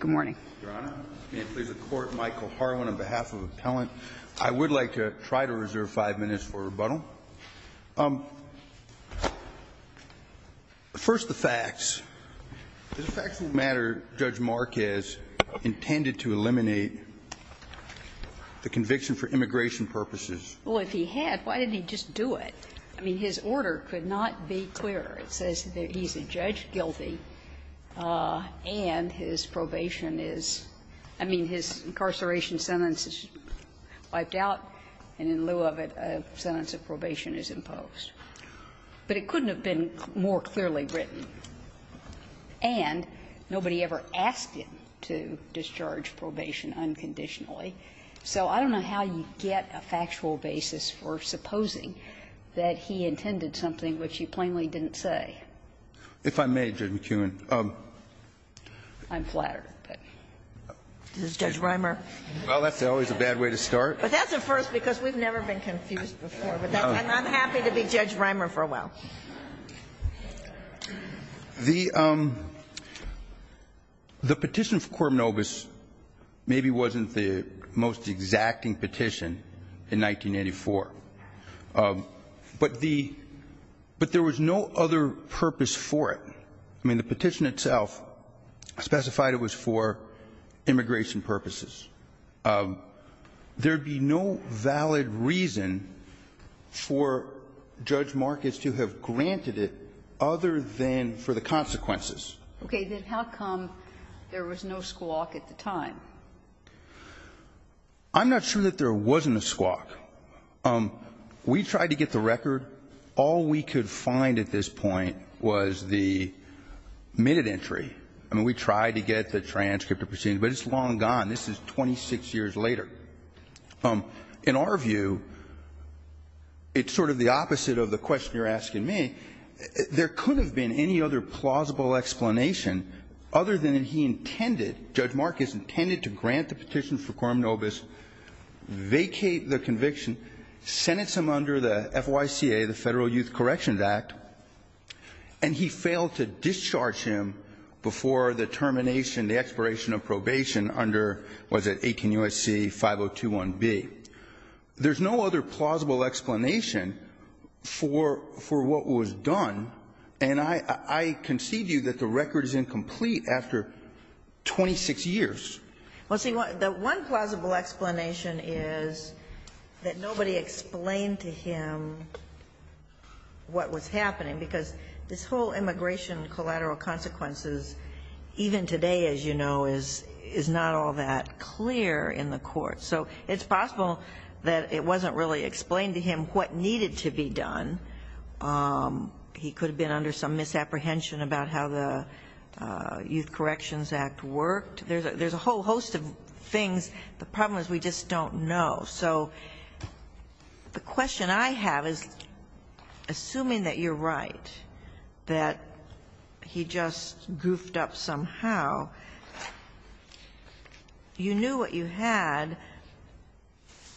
Good morning, Your Honor. May it please the Court, Michael Harwin, on behalf of Appellant. I would like to try to reserve five minutes for rebuttal. First, the facts. Is it a factual matter Judge Marquez intended to eliminate the conviction for immigration purposes? Well, if he had, why didn't he just do it? I mean, his order could not be clearer. It says that he's a judge guilty, and his probation is – I mean, his incarceration sentence is wiped out, and in lieu of it, a sentence of probation is imposed. But it couldn't have been more clearly written. And nobody ever asked him to discharge probation unconditionally. So I don't know how you get a factual basis for supposing that he intended something which you plainly didn't say. If I may, Judge McKeown. I'm flattered, but does Judge Reimer? Well, that's always a bad way to start. But that's a first, because we've never been confused before. And I'm happy to be Judge Reimer for a while. The petition for Corp Nobis maybe wasn't the most exacting petition in 1984. But the – but there was no other purpose for it. I mean, the petition itself specified it was for immigration purposes. There would be no valid reason for Judge Marcus to have granted it other than for the consequences. Okay. Then how come there was no squawk at the time? I'm not sure that there wasn't a squawk. We tried to get the record. All we could find at this point was the minute entry. I mean, we tried to get the transcript of proceedings. But it's long gone. This is 26 years later. In our view, it's sort of the opposite of the question you're asking me. There couldn't have been any other plausible explanation other than that he intended – Judge Marcus intended to grant the petition for Corp Nobis, vacate the conviction sentence him under the FYCA, the Federal Youth Corrections Act, and he failed to discharge him before the termination, the expiration of probation under, what is it, 18 U.S.C. 5021B. There's no other plausible explanation for what was done. And I concede to you that the record is incomplete after 26 years. Well, see, the one plausible explanation is that nobody explained to him what was happening, because this whole immigration collateral consequences, even today, as you know, is not all that clear in the court. So it's possible that it wasn't really explained to him what needed to be done. He could have been under some misapprehension about how the Youth Corrections Act worked. There's a whole host of things. The problem is we just don't know. So the question I have is, assuming that you're right, that he just goofed up somehow, you knew what you had,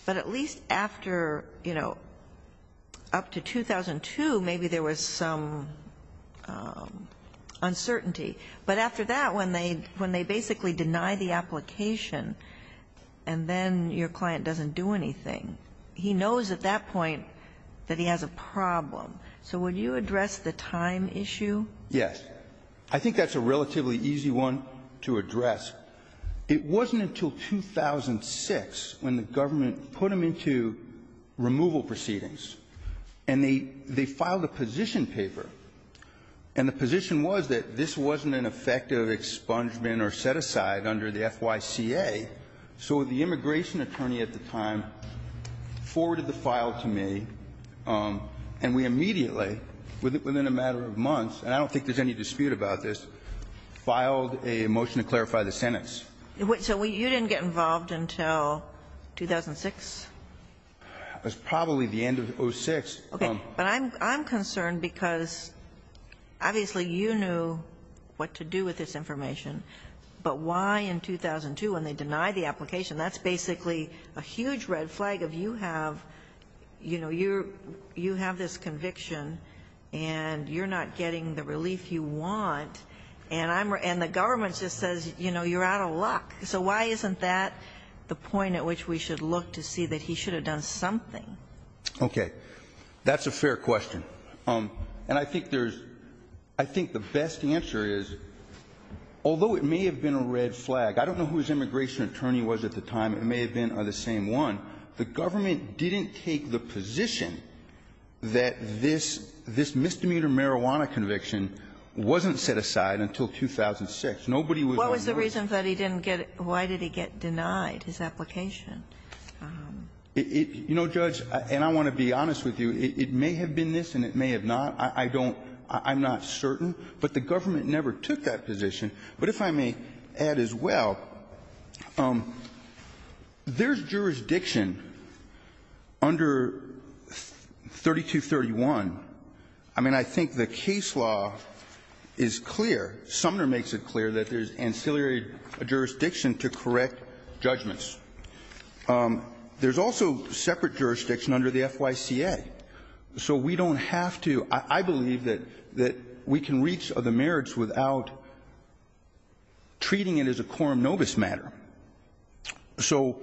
but at least after, you know, up to 2002, maybe there was some uncertainty. But after that, when they basically deny the application and then your client doesn't do anything, he knows at that point that he has a problem. So would you address the time issue? Yes. I think that's a relatively easy one to address. It wasn't until 2006 when the government put him into removal proceedings, and they filed a position paper. And the position was that this wasn't an effective expungement or set-aside under the FYCA. So the immigration attorney at the time forwarded the file to me, and we immediately, within a matter of months, and I don't think there's any dispute about this, filed a motion to clarify the sentence. So you didn't get involved until 2006? It was probably the end of 2006. Okay. But I'm concerned because obviously you knew what to do with this information, but why in 2002 when they deny the application? That's basically a huge red flag of you have, you know, you have this conviction and you're not getting the relief you want, and the government just says, you know, you're out of luck. So why isn't that the point at which we should look to see that he should have done something? Okay. That's a fair question. And I think there's – I think the best answer is, although it may have been a red flag, I don't know whose immigration attorney was at the time. It may have been the same one. The government didn't take the position that this misdemeanor marijuana conviction wasn't set aside until 2006. Nobody was going to do it. What was the reason that he didn't get – why did he get denied his application? You know, Judge, and I want to be honest with you, it may have been this and it may have not. I don't – I'm not certain. But the government never took that position. But if I may add as well, there's jurisdiction under 3231. I mean, I think the case law is clear. Sumner makes it clear that there's ancillary jurisdiction to correct judgments. There's also separate jurisdiction under the FYCA. So we don't have to – I believe that we can reach other merits without treating it as a quorum nobis matter. So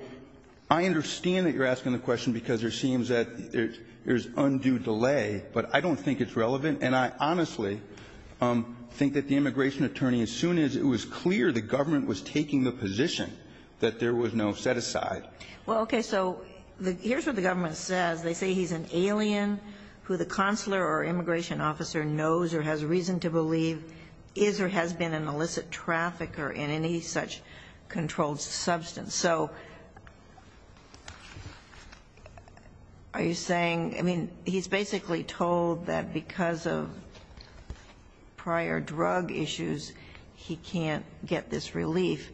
I understand that you're asking the question because there seems that there's undue delay, but I don't think it's relevant. And I honestly think that the immigration attorney, as soon as it was clear the immigration attorney was going to have to set aside. Well, okay, so here's what the government says. They say he's an alien who the consular or immigration officer knows or has reason to believe is or has been an illicit trafficker in any such controlled substance. So are you saying – I mean, he's basically told that because of prior drug issues, he can't get this relief.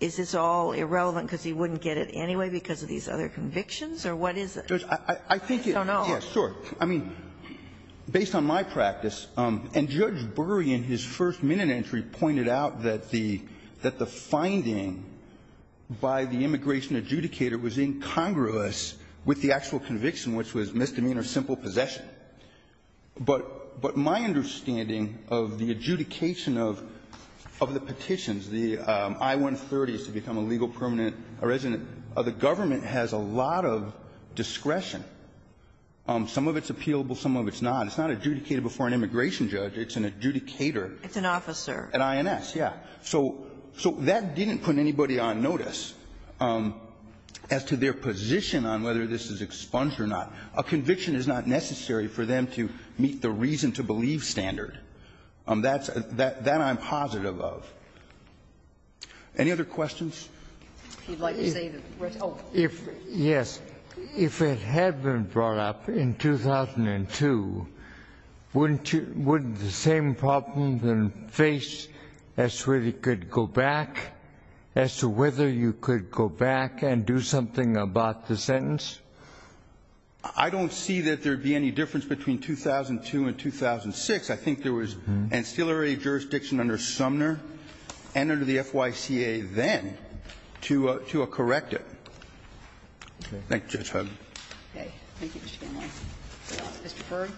Is this all irrelevant because he wouldn't get it anyway because of these other convictions, or what is it? I don't know. I mean, based on my practice, and Judge Burry in his first minute entry pointed out that the finding by the immigration adjudicator was incongruous with the actual conviction, which was misdemeanor simple possession. But my understanding of the adjudication of the petitions, the I-130s to become a legal permanent resident, the government has a lot of discretion. Some of it's appealable, some of it's not. It's not adjudicated before an immigration judge. It's an adjudicator. It's an officer. An INS, yeah. So that didn't put anybody on notice as to their position on whether this is expunged or not. A conviction is not necessary for them to meet the reason-to-believe standard. That's the one I'm positive of. Any other questions? If you'd like to say that. Oh. If, yes. If it had been brought up in 2002, wouldn't the same problem then face as to whether it could go back, as to whether you could go back and do something about the sentence? I don't see that there would be any difference between 2002 and 2006. I think there was an ancillary jurisdiction under Sumner and under the FYCA then to correct it. Okay. Thank you, Judge Hogan. Okay. Thank you, Mr. Stanley. Mr. Ferg.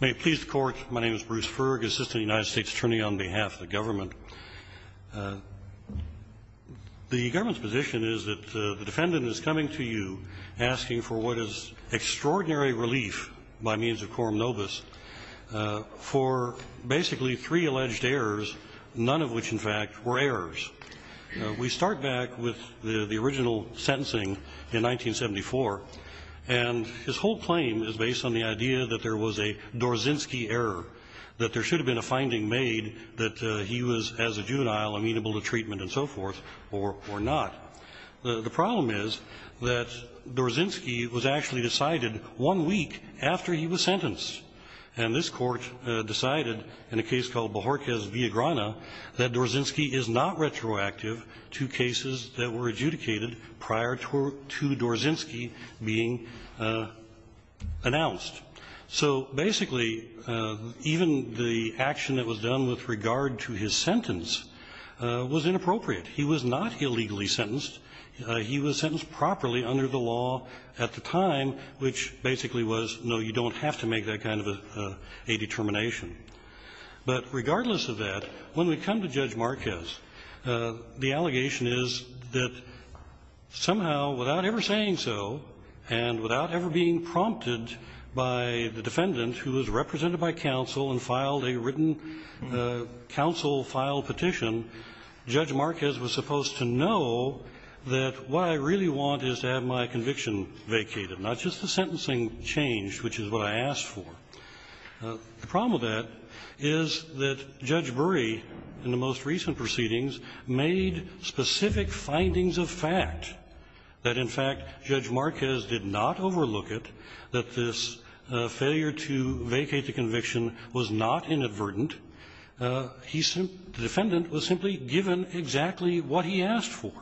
May it please the Court. My name is Bruce Ferg, Assistant United States Attorney on behalf of the government. The government's position is that the defendant is coming to you asking for what is extraordinary relief by means of quorum nobis for basically three alleged errors, none of which, in fact, were errors. We start back with the original sentencing in 1974, and his whole claim is based on the idea that there was a Dorzinski error, that there should have been a finding made that he was, as a juvenile, amenable to treatment and so forth or not. The problem is that Dorzinski was actually decided one week after he was sentenced, and this Court decided in a case called Bohorquez v. Agrana that Dorzinski is not So basically, even the action that was done with regard to his sentence was inappropriate. He was not illegally sentenced. He was sentenced properly under the law at the time, which basically was, no, you don't have to make that kind of a determination. But regardless of that, when we come to Judge Marquez, the allegation is that somehow without ever saying so and without ever being prompted by the defendant who was represented by counsel and filed a written counsel file petition, Judge Marquez was supposed to know that what I really want is to have my conviction vacated, not just the sentencing changed, which is what I asked for. The problem with that is that Judge Brey, in the most recent proceedings, made specific findings of fact that, in fact, Judge Marquez did not overlook it, that this failure to vacate the conviction was not inadvertent. He sent the defendant was simply given exactly what he asked for.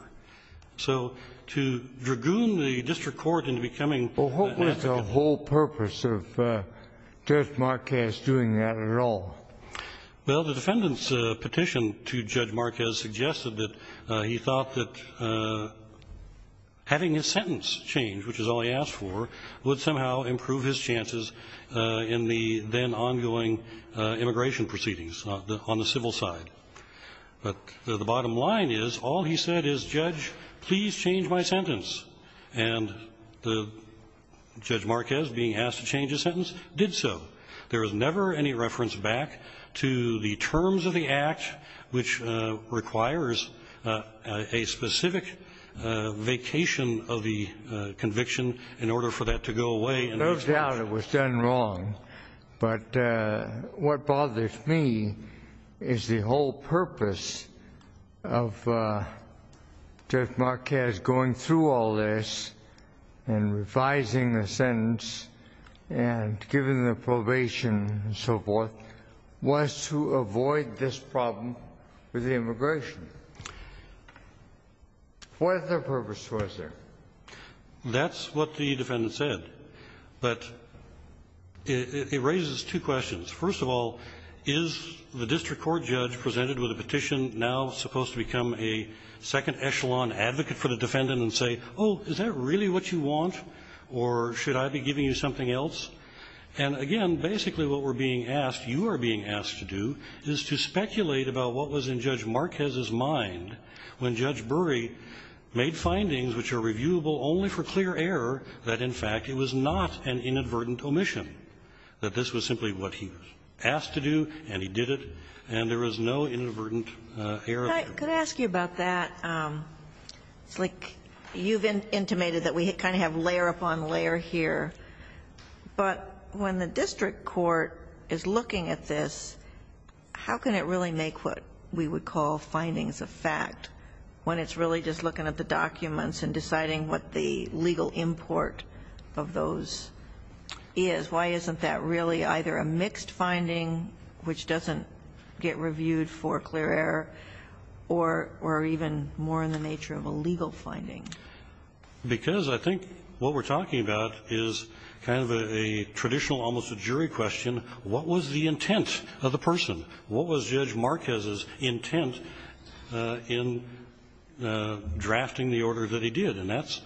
So to dragoon the district court into becoming an advocate. Well, what was the whole purpose of Judge Marquez doing that at all? Well, the defendant's petition to Judge Marquez suggested that he thought that having his sentence changed, which is all he asked for, would somehow improve his chances in the then-ongoing immigration proceedings on the civil side. But the bottom line is, all he said is, Judge, please change my sentence. And Judge Marquez, being asked to change his sentence, did so. There is never any reference back to the terms of the act, which requires a specific vacation of the conviction in order for that to go away. There's no doubt it was done wrong. But what bothers me is the whole purpose of Judge Marquez going through all this and revising the sentence and giving the probation and so forth was to avoid this problem with the immigration. What other purpose was there? That's what the defendant said. But it raises two questions. First of all, is the district court judge presented with a petition now supposed to become a second echelon advocate for the defendant and say, oh, is that really what you want, or should I be giving you something else? And, again, basically what we're being asked, you are being asked to do, is to speculate about what was in Judge Marquez's mind when Judge Bury made findings which are reviewable only for clear error, that, in fact, it was not an inadvertent omission, that this was simply what he was asked to do, and he did it, and there was no inadvertent error. Could I ask you about that? It's like you've intimated that we kind of have layer upon layer here, but when the district court is looking at this, how can it really make what we would call findings of fact when it's really just looking at the documents and deciding what the legal import of those is? Why isn't that really either a mixed finding, which doesn't get reviewed for clear error, or even more in the nature of a legal finding? Because I think what we're talking about is kind of a traditional, almost a jury question, what was the intent of the person? What was Judge Marquez's intent in drafting the order that he did? And that's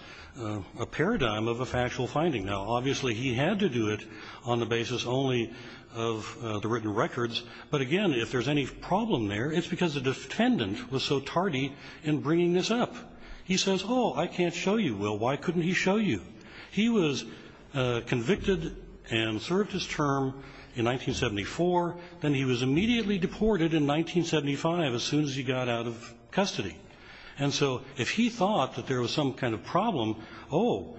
a paradigm of a factual finding. Now, obviously he had to do it on the basis only of the written records, but, again, if there's any problem there, it's because the defendant was so tardy in bringing this up. He says, oh, I can't show you. Well, why couldn't he show you? He was convicted and served his term in 1974, then he was immediately deported in 1975 as soon as he got out of custody. And so if he thought that there was some kind of problem, oh,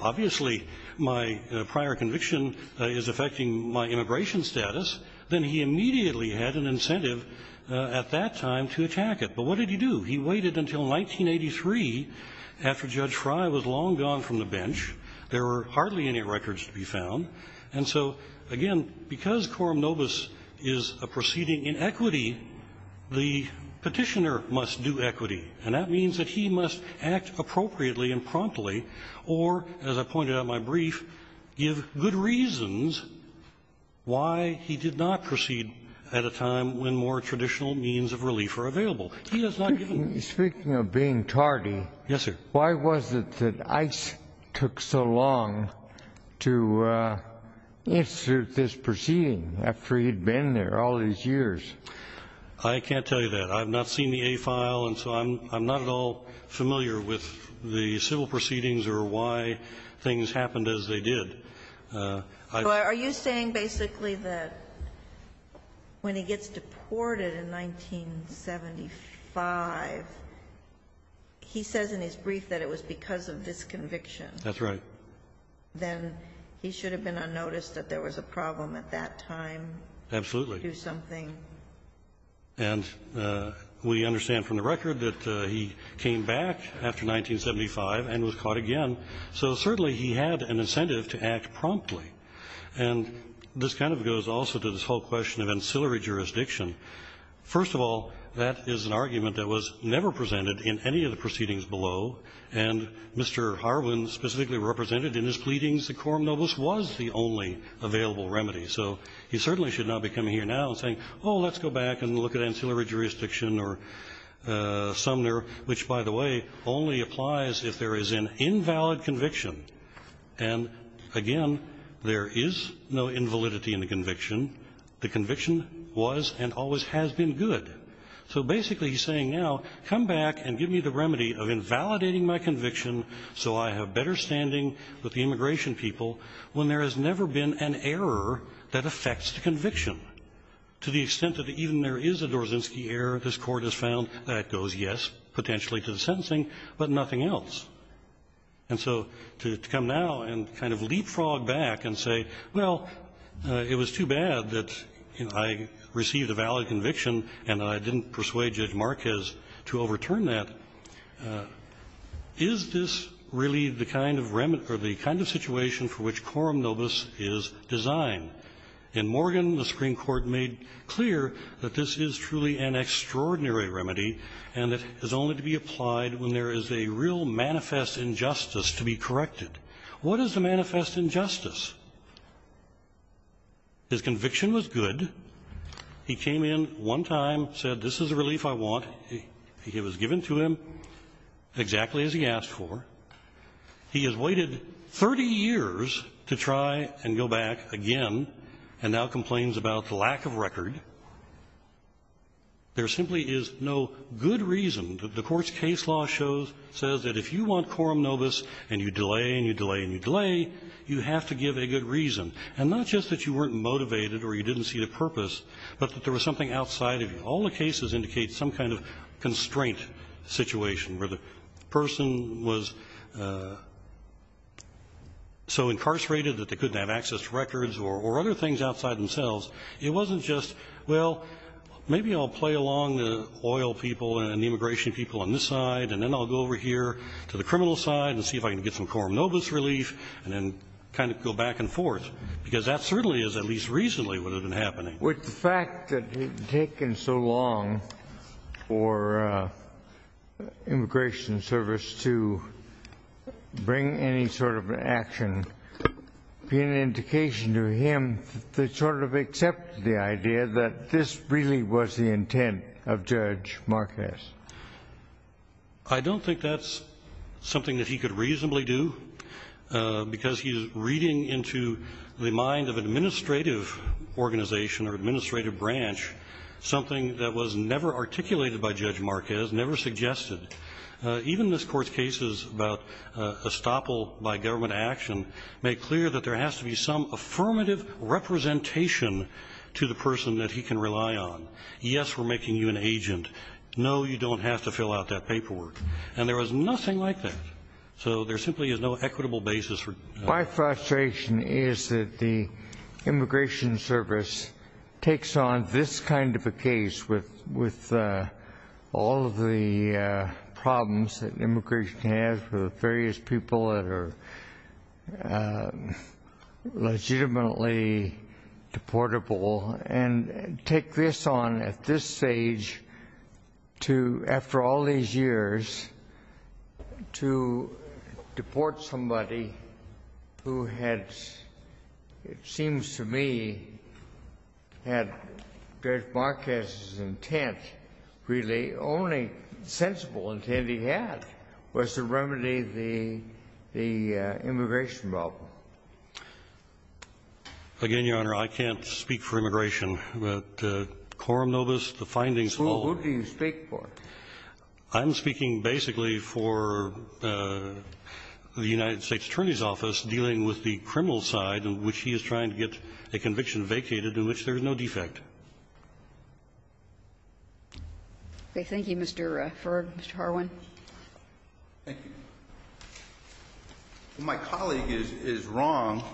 obviously my prior conviction is affecting my immigration status, then he immediately had an incentive at that time to attack it. But what did he do? He waited until 1983 after Judge Frye was long gone from the bench. There were hardly any records to be found. And so, again, because quorum nobis is a proceeding in equity, the petitioner must do equity. And that means that he must act appropriately and promptly or, as I pointed out in my testimony, there are good reasons why he did not proceed at a time when more traditional means of relief are available. He has not given up. Speaking of being tardy. Yes, sir. Why was it that Ice took so long to institute this proceeding after he'd been there all these years? I can't tell you that. I've not seen the A file, and so I'm not at all familiar with the civil proceedings or why things happened as they did. Are you saying basically that when he gets deported in 1975, he says in his brief that it was because of this conviction? That's right. Then he should have been unnoticed that there was a problem at that time. Absolutely. To do something. And we understand from the record that he came back after 1975 and was caught again, so certainly he had an incentive to act promptly. And this kind of goes also to this whole question of ancillary jurisdiction. First of all, that is an argument that was never presented in any of the proceedings below, and Mr. Harwin specifically represented in his pleadings that quorum nobis was the only available remedy. So he certainly should not be coming here now and saying, oh, let's go back and look at ancillary jurisdiction or Sumner, which, by the way, only applies if there is an invalid conviction. And again, there is no invalidity in the conviction. The conviction was and always has been good. So basically he's saying now, come back and give me the remedy of invalidating my conviction so I have better standing with the immigration people when there has never been an error that affects the conviction. To the extent that even there is a Dorzynski error, this Court has found that goes, yes, potentially to the sentencing, but nothing else. And so to come now and kind of leapfrog back and say, well, it was too bad that I received a valid conviction and I didn't persuade Judge Marquez to overturn that, is this really the kind of situation for which quorum nobis is designed? In Morgan, the Supreme Court made clear that this is truly an extraordinary remedy and that is only to be applied when there is a real manifest injustice to be corrected. What is the manifest injustice? His conviction was good. He came in one time, said this is a relief I want. It was given to him exactly as he asked for. He has waited 30 years to try and go back again and now complains about the lack of record. There simply is no good reason. The Court's case law shows, says that if you want quorum nobis and you delay and you delay and you delay, you have to give a good reason. And not just that you weren't motivated or you didn't see the purpose, but that there was something outside. All the cases indicate some kind of constraint situation where the person was so incarcerated that they couldn't have access to records or other things outside themselves. It wasn't just, well, maybe I'll play along the oil people and the immigration people on this side and then I'll go over here to the criminal side and see if I can get some quorum nobis relief and then kind of go back and forth. Because that certainly is, at least recently, what had been happening. With the fact that it had taken so long for Immigration Service to bring any sort of action, be an indication to him to sort of accept the idea that this really was the intent of Judge Marquez? I don't think that's something that he could reasonably do because he's reading into the mind of administrative organization or administrative branch something that was never articulated by Judge Marquez, never suggested. Even this Court's cases about estoppel by government action make clear that there has to be some affirmative representation to the person that he can rely on. Yes, we're making you an agent. No, you don't have to fill out that paperwork. And there was nothing like that. So there simply is no equitable basis for judgment. My frustration is that the Immigration Service takes on this kind of a case with all of the problems that immigration has with various people that are legitimately deportable and take this on at this stage to, after all these years, to deport somebody who had, it seems to me, had Judge Marquez's intent, really only sensible intent he had, was to remedy the immigration problem. Again, Your Honor, I can't speak for immigration. But quorum nobis, the findings hold. Who do you speak for? I'm speaking basically for the United States Attorney's Office dealing with the criminal side of which he is trying to get a conviction vacated in which there is no defect. Okay. Thank you, Mr. Ferg. Mr. Harwin. Thank you. My colleague is wrong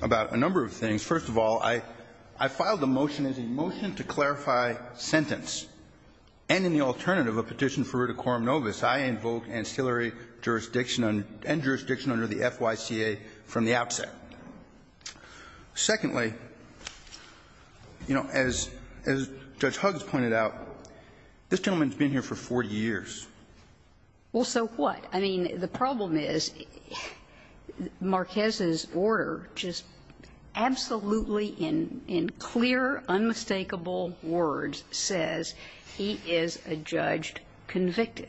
about a number of things. First of all, I filed the motion as a motion to clarify sentence. And in the alternative, a petition for root of quorum nobis, I invoke ancillary jurisdiction and jurisdiction under the FYCA from the outset. Secondly, you know, as Judge Huggs pointed out, this gentleman has been here for 40 years. Well, so what? I mean, the problem is Marquez's order just absolutely in clear, unmistakable words says he is a judge convicted.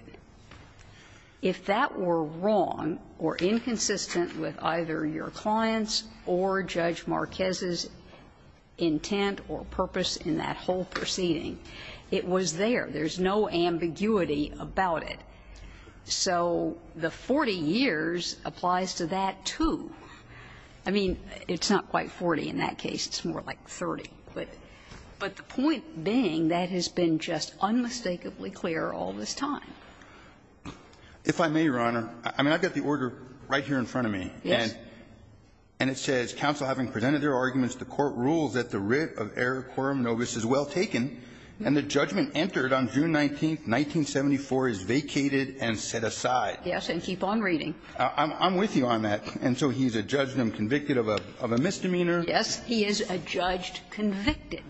If that were wrong or inconsistent with either your clients or Judge Marquez's intent or purpose in that whole proceeding, it was there. There's no ambiguity about it. So the 40 years applies to that, too. I mean, it's not quite 40 in that case. It's more like 30. But the point being that has been just unmistakably clear all this time. If I may, Your Honor, I mean, I've got the order right here in front of me. Yes. And it says, Yes, and keep on reading. I'm with you on that. And so he's adjudged and convicted of a misdemeanor. Yes. He is adjudged convicted.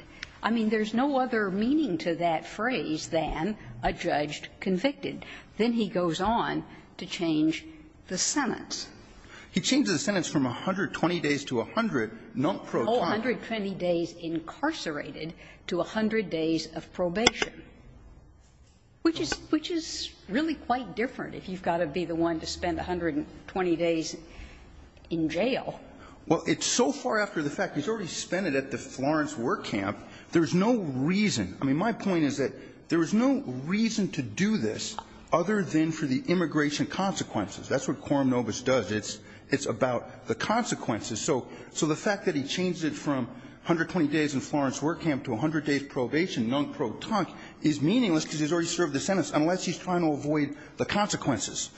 I mean, there's no other meaning to that phrase than adjudged convicted. Then he goes on to change the sentence. He changes the sentence from 120 days to 100 non-pro time. 120 days incarcerated to 100 days of probation, which is really quite different if you've got to be the one to spend 120 days in jail. Well, it's so far after the fact. He's already spent it at the Florence War Camp. There's no reason. I mean, my point is that there is no reason to do this other than for the immigration consequences. That's what quorum nobis does. It's about the consequences. So the fact that he changes it from 120 days in Florence War Camp to 100 days probation non-pro time is meaningless because he's already served the sentence unless he's trying to avoid the consequences.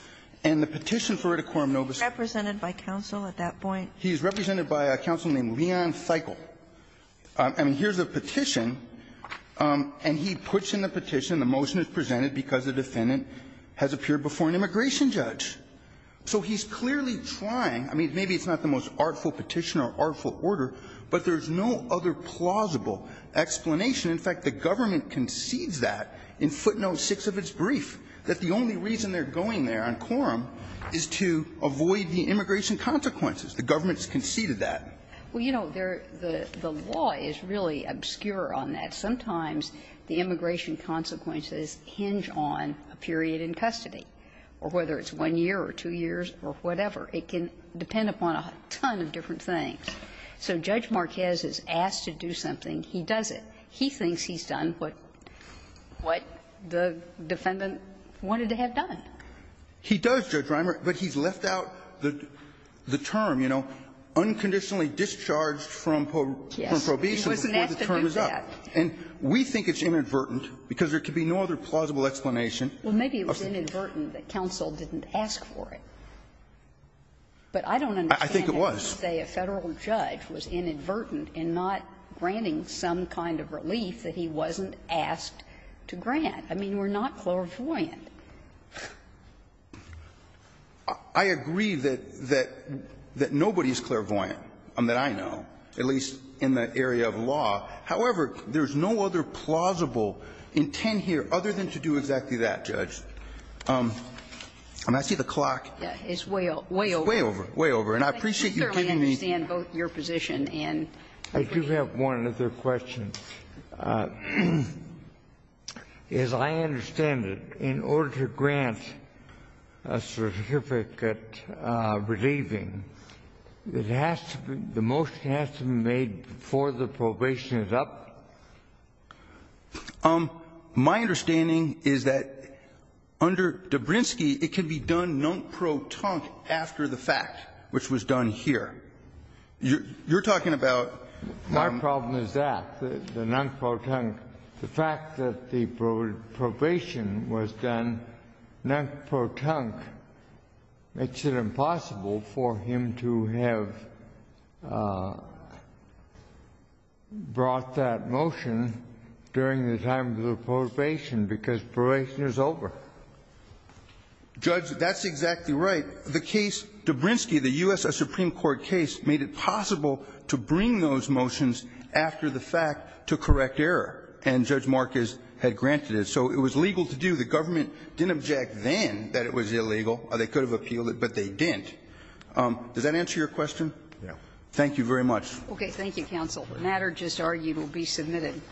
And the petition for it at quorum nobis. He's represented by counsel at that point? He's represented by a counsel named Leon Feigl. I mean, here's a petition, and he puts in the petition, the motion is presented because the defendant has appeared before an immigration judge. So he's clearly trying. I mean, maybe it's not the most artful petition or artful order, but there's no other plausible explanation. In fact, the government concedes that in footnote 6 of its brief, that the only reason they're going there on quorum is to avoid the immigration consequences. The government has conceded that. Well, you know, the law is really obscure on that. Sometimes the immigration consequences hinge on a period in custody, or whether it's one year or two years or whatever. It can depend upon a ton of different things. So Judge Marquez is asked to do something. He does it. He thinks he's done what the defendant wanted to have done. He does, Judge Reimer, but he's left out the term, you know, unconditionally discharged from probation before the term is up. And we think it's inadvertent because there could be no other plausible explanation of the law. Well, maybe it was inadvertent that counsel didn't ask for it. But I don't understand how you could say a Federal judge was inadvertent in not granting some kind of relief that he wasn't asked to grant. I mean, we're not clairvoyant. I agree that nobody's clairvoyant that I know, at least in the area of law. However, there's no other plausible intent here other than to do exactly that, Judge. I mean, I see the clock. It's way over. It's way over. Way over. And I appreciate you giving me the time. I do have one other question. As I understand it, in order to grant a certificate relieving, it has to be the motion that has to be made before the probation is up? My understanding is that under Dabrinsky, it can be done non-protonque after the fact, which was done here. You're talking about? My problem is that, the non-protonque. The fact that the probation was done non-protonque makes it impossible for him to have brought that motion during the time of the probation, because probation is over. Judge, that's exactly right. The case, Dabrinsky, the U.S. Supreme Court case, made it possible to bring those motions after the fact to correct error, and Judge Marcus had granted it. So it was legal to do. The government didn't object then that it was illegal. They could have appealed it, but they didn't. Does that answer your question? Yes. Thank you very much. Okay, thank you, counsel. The matter just argued will be submitted.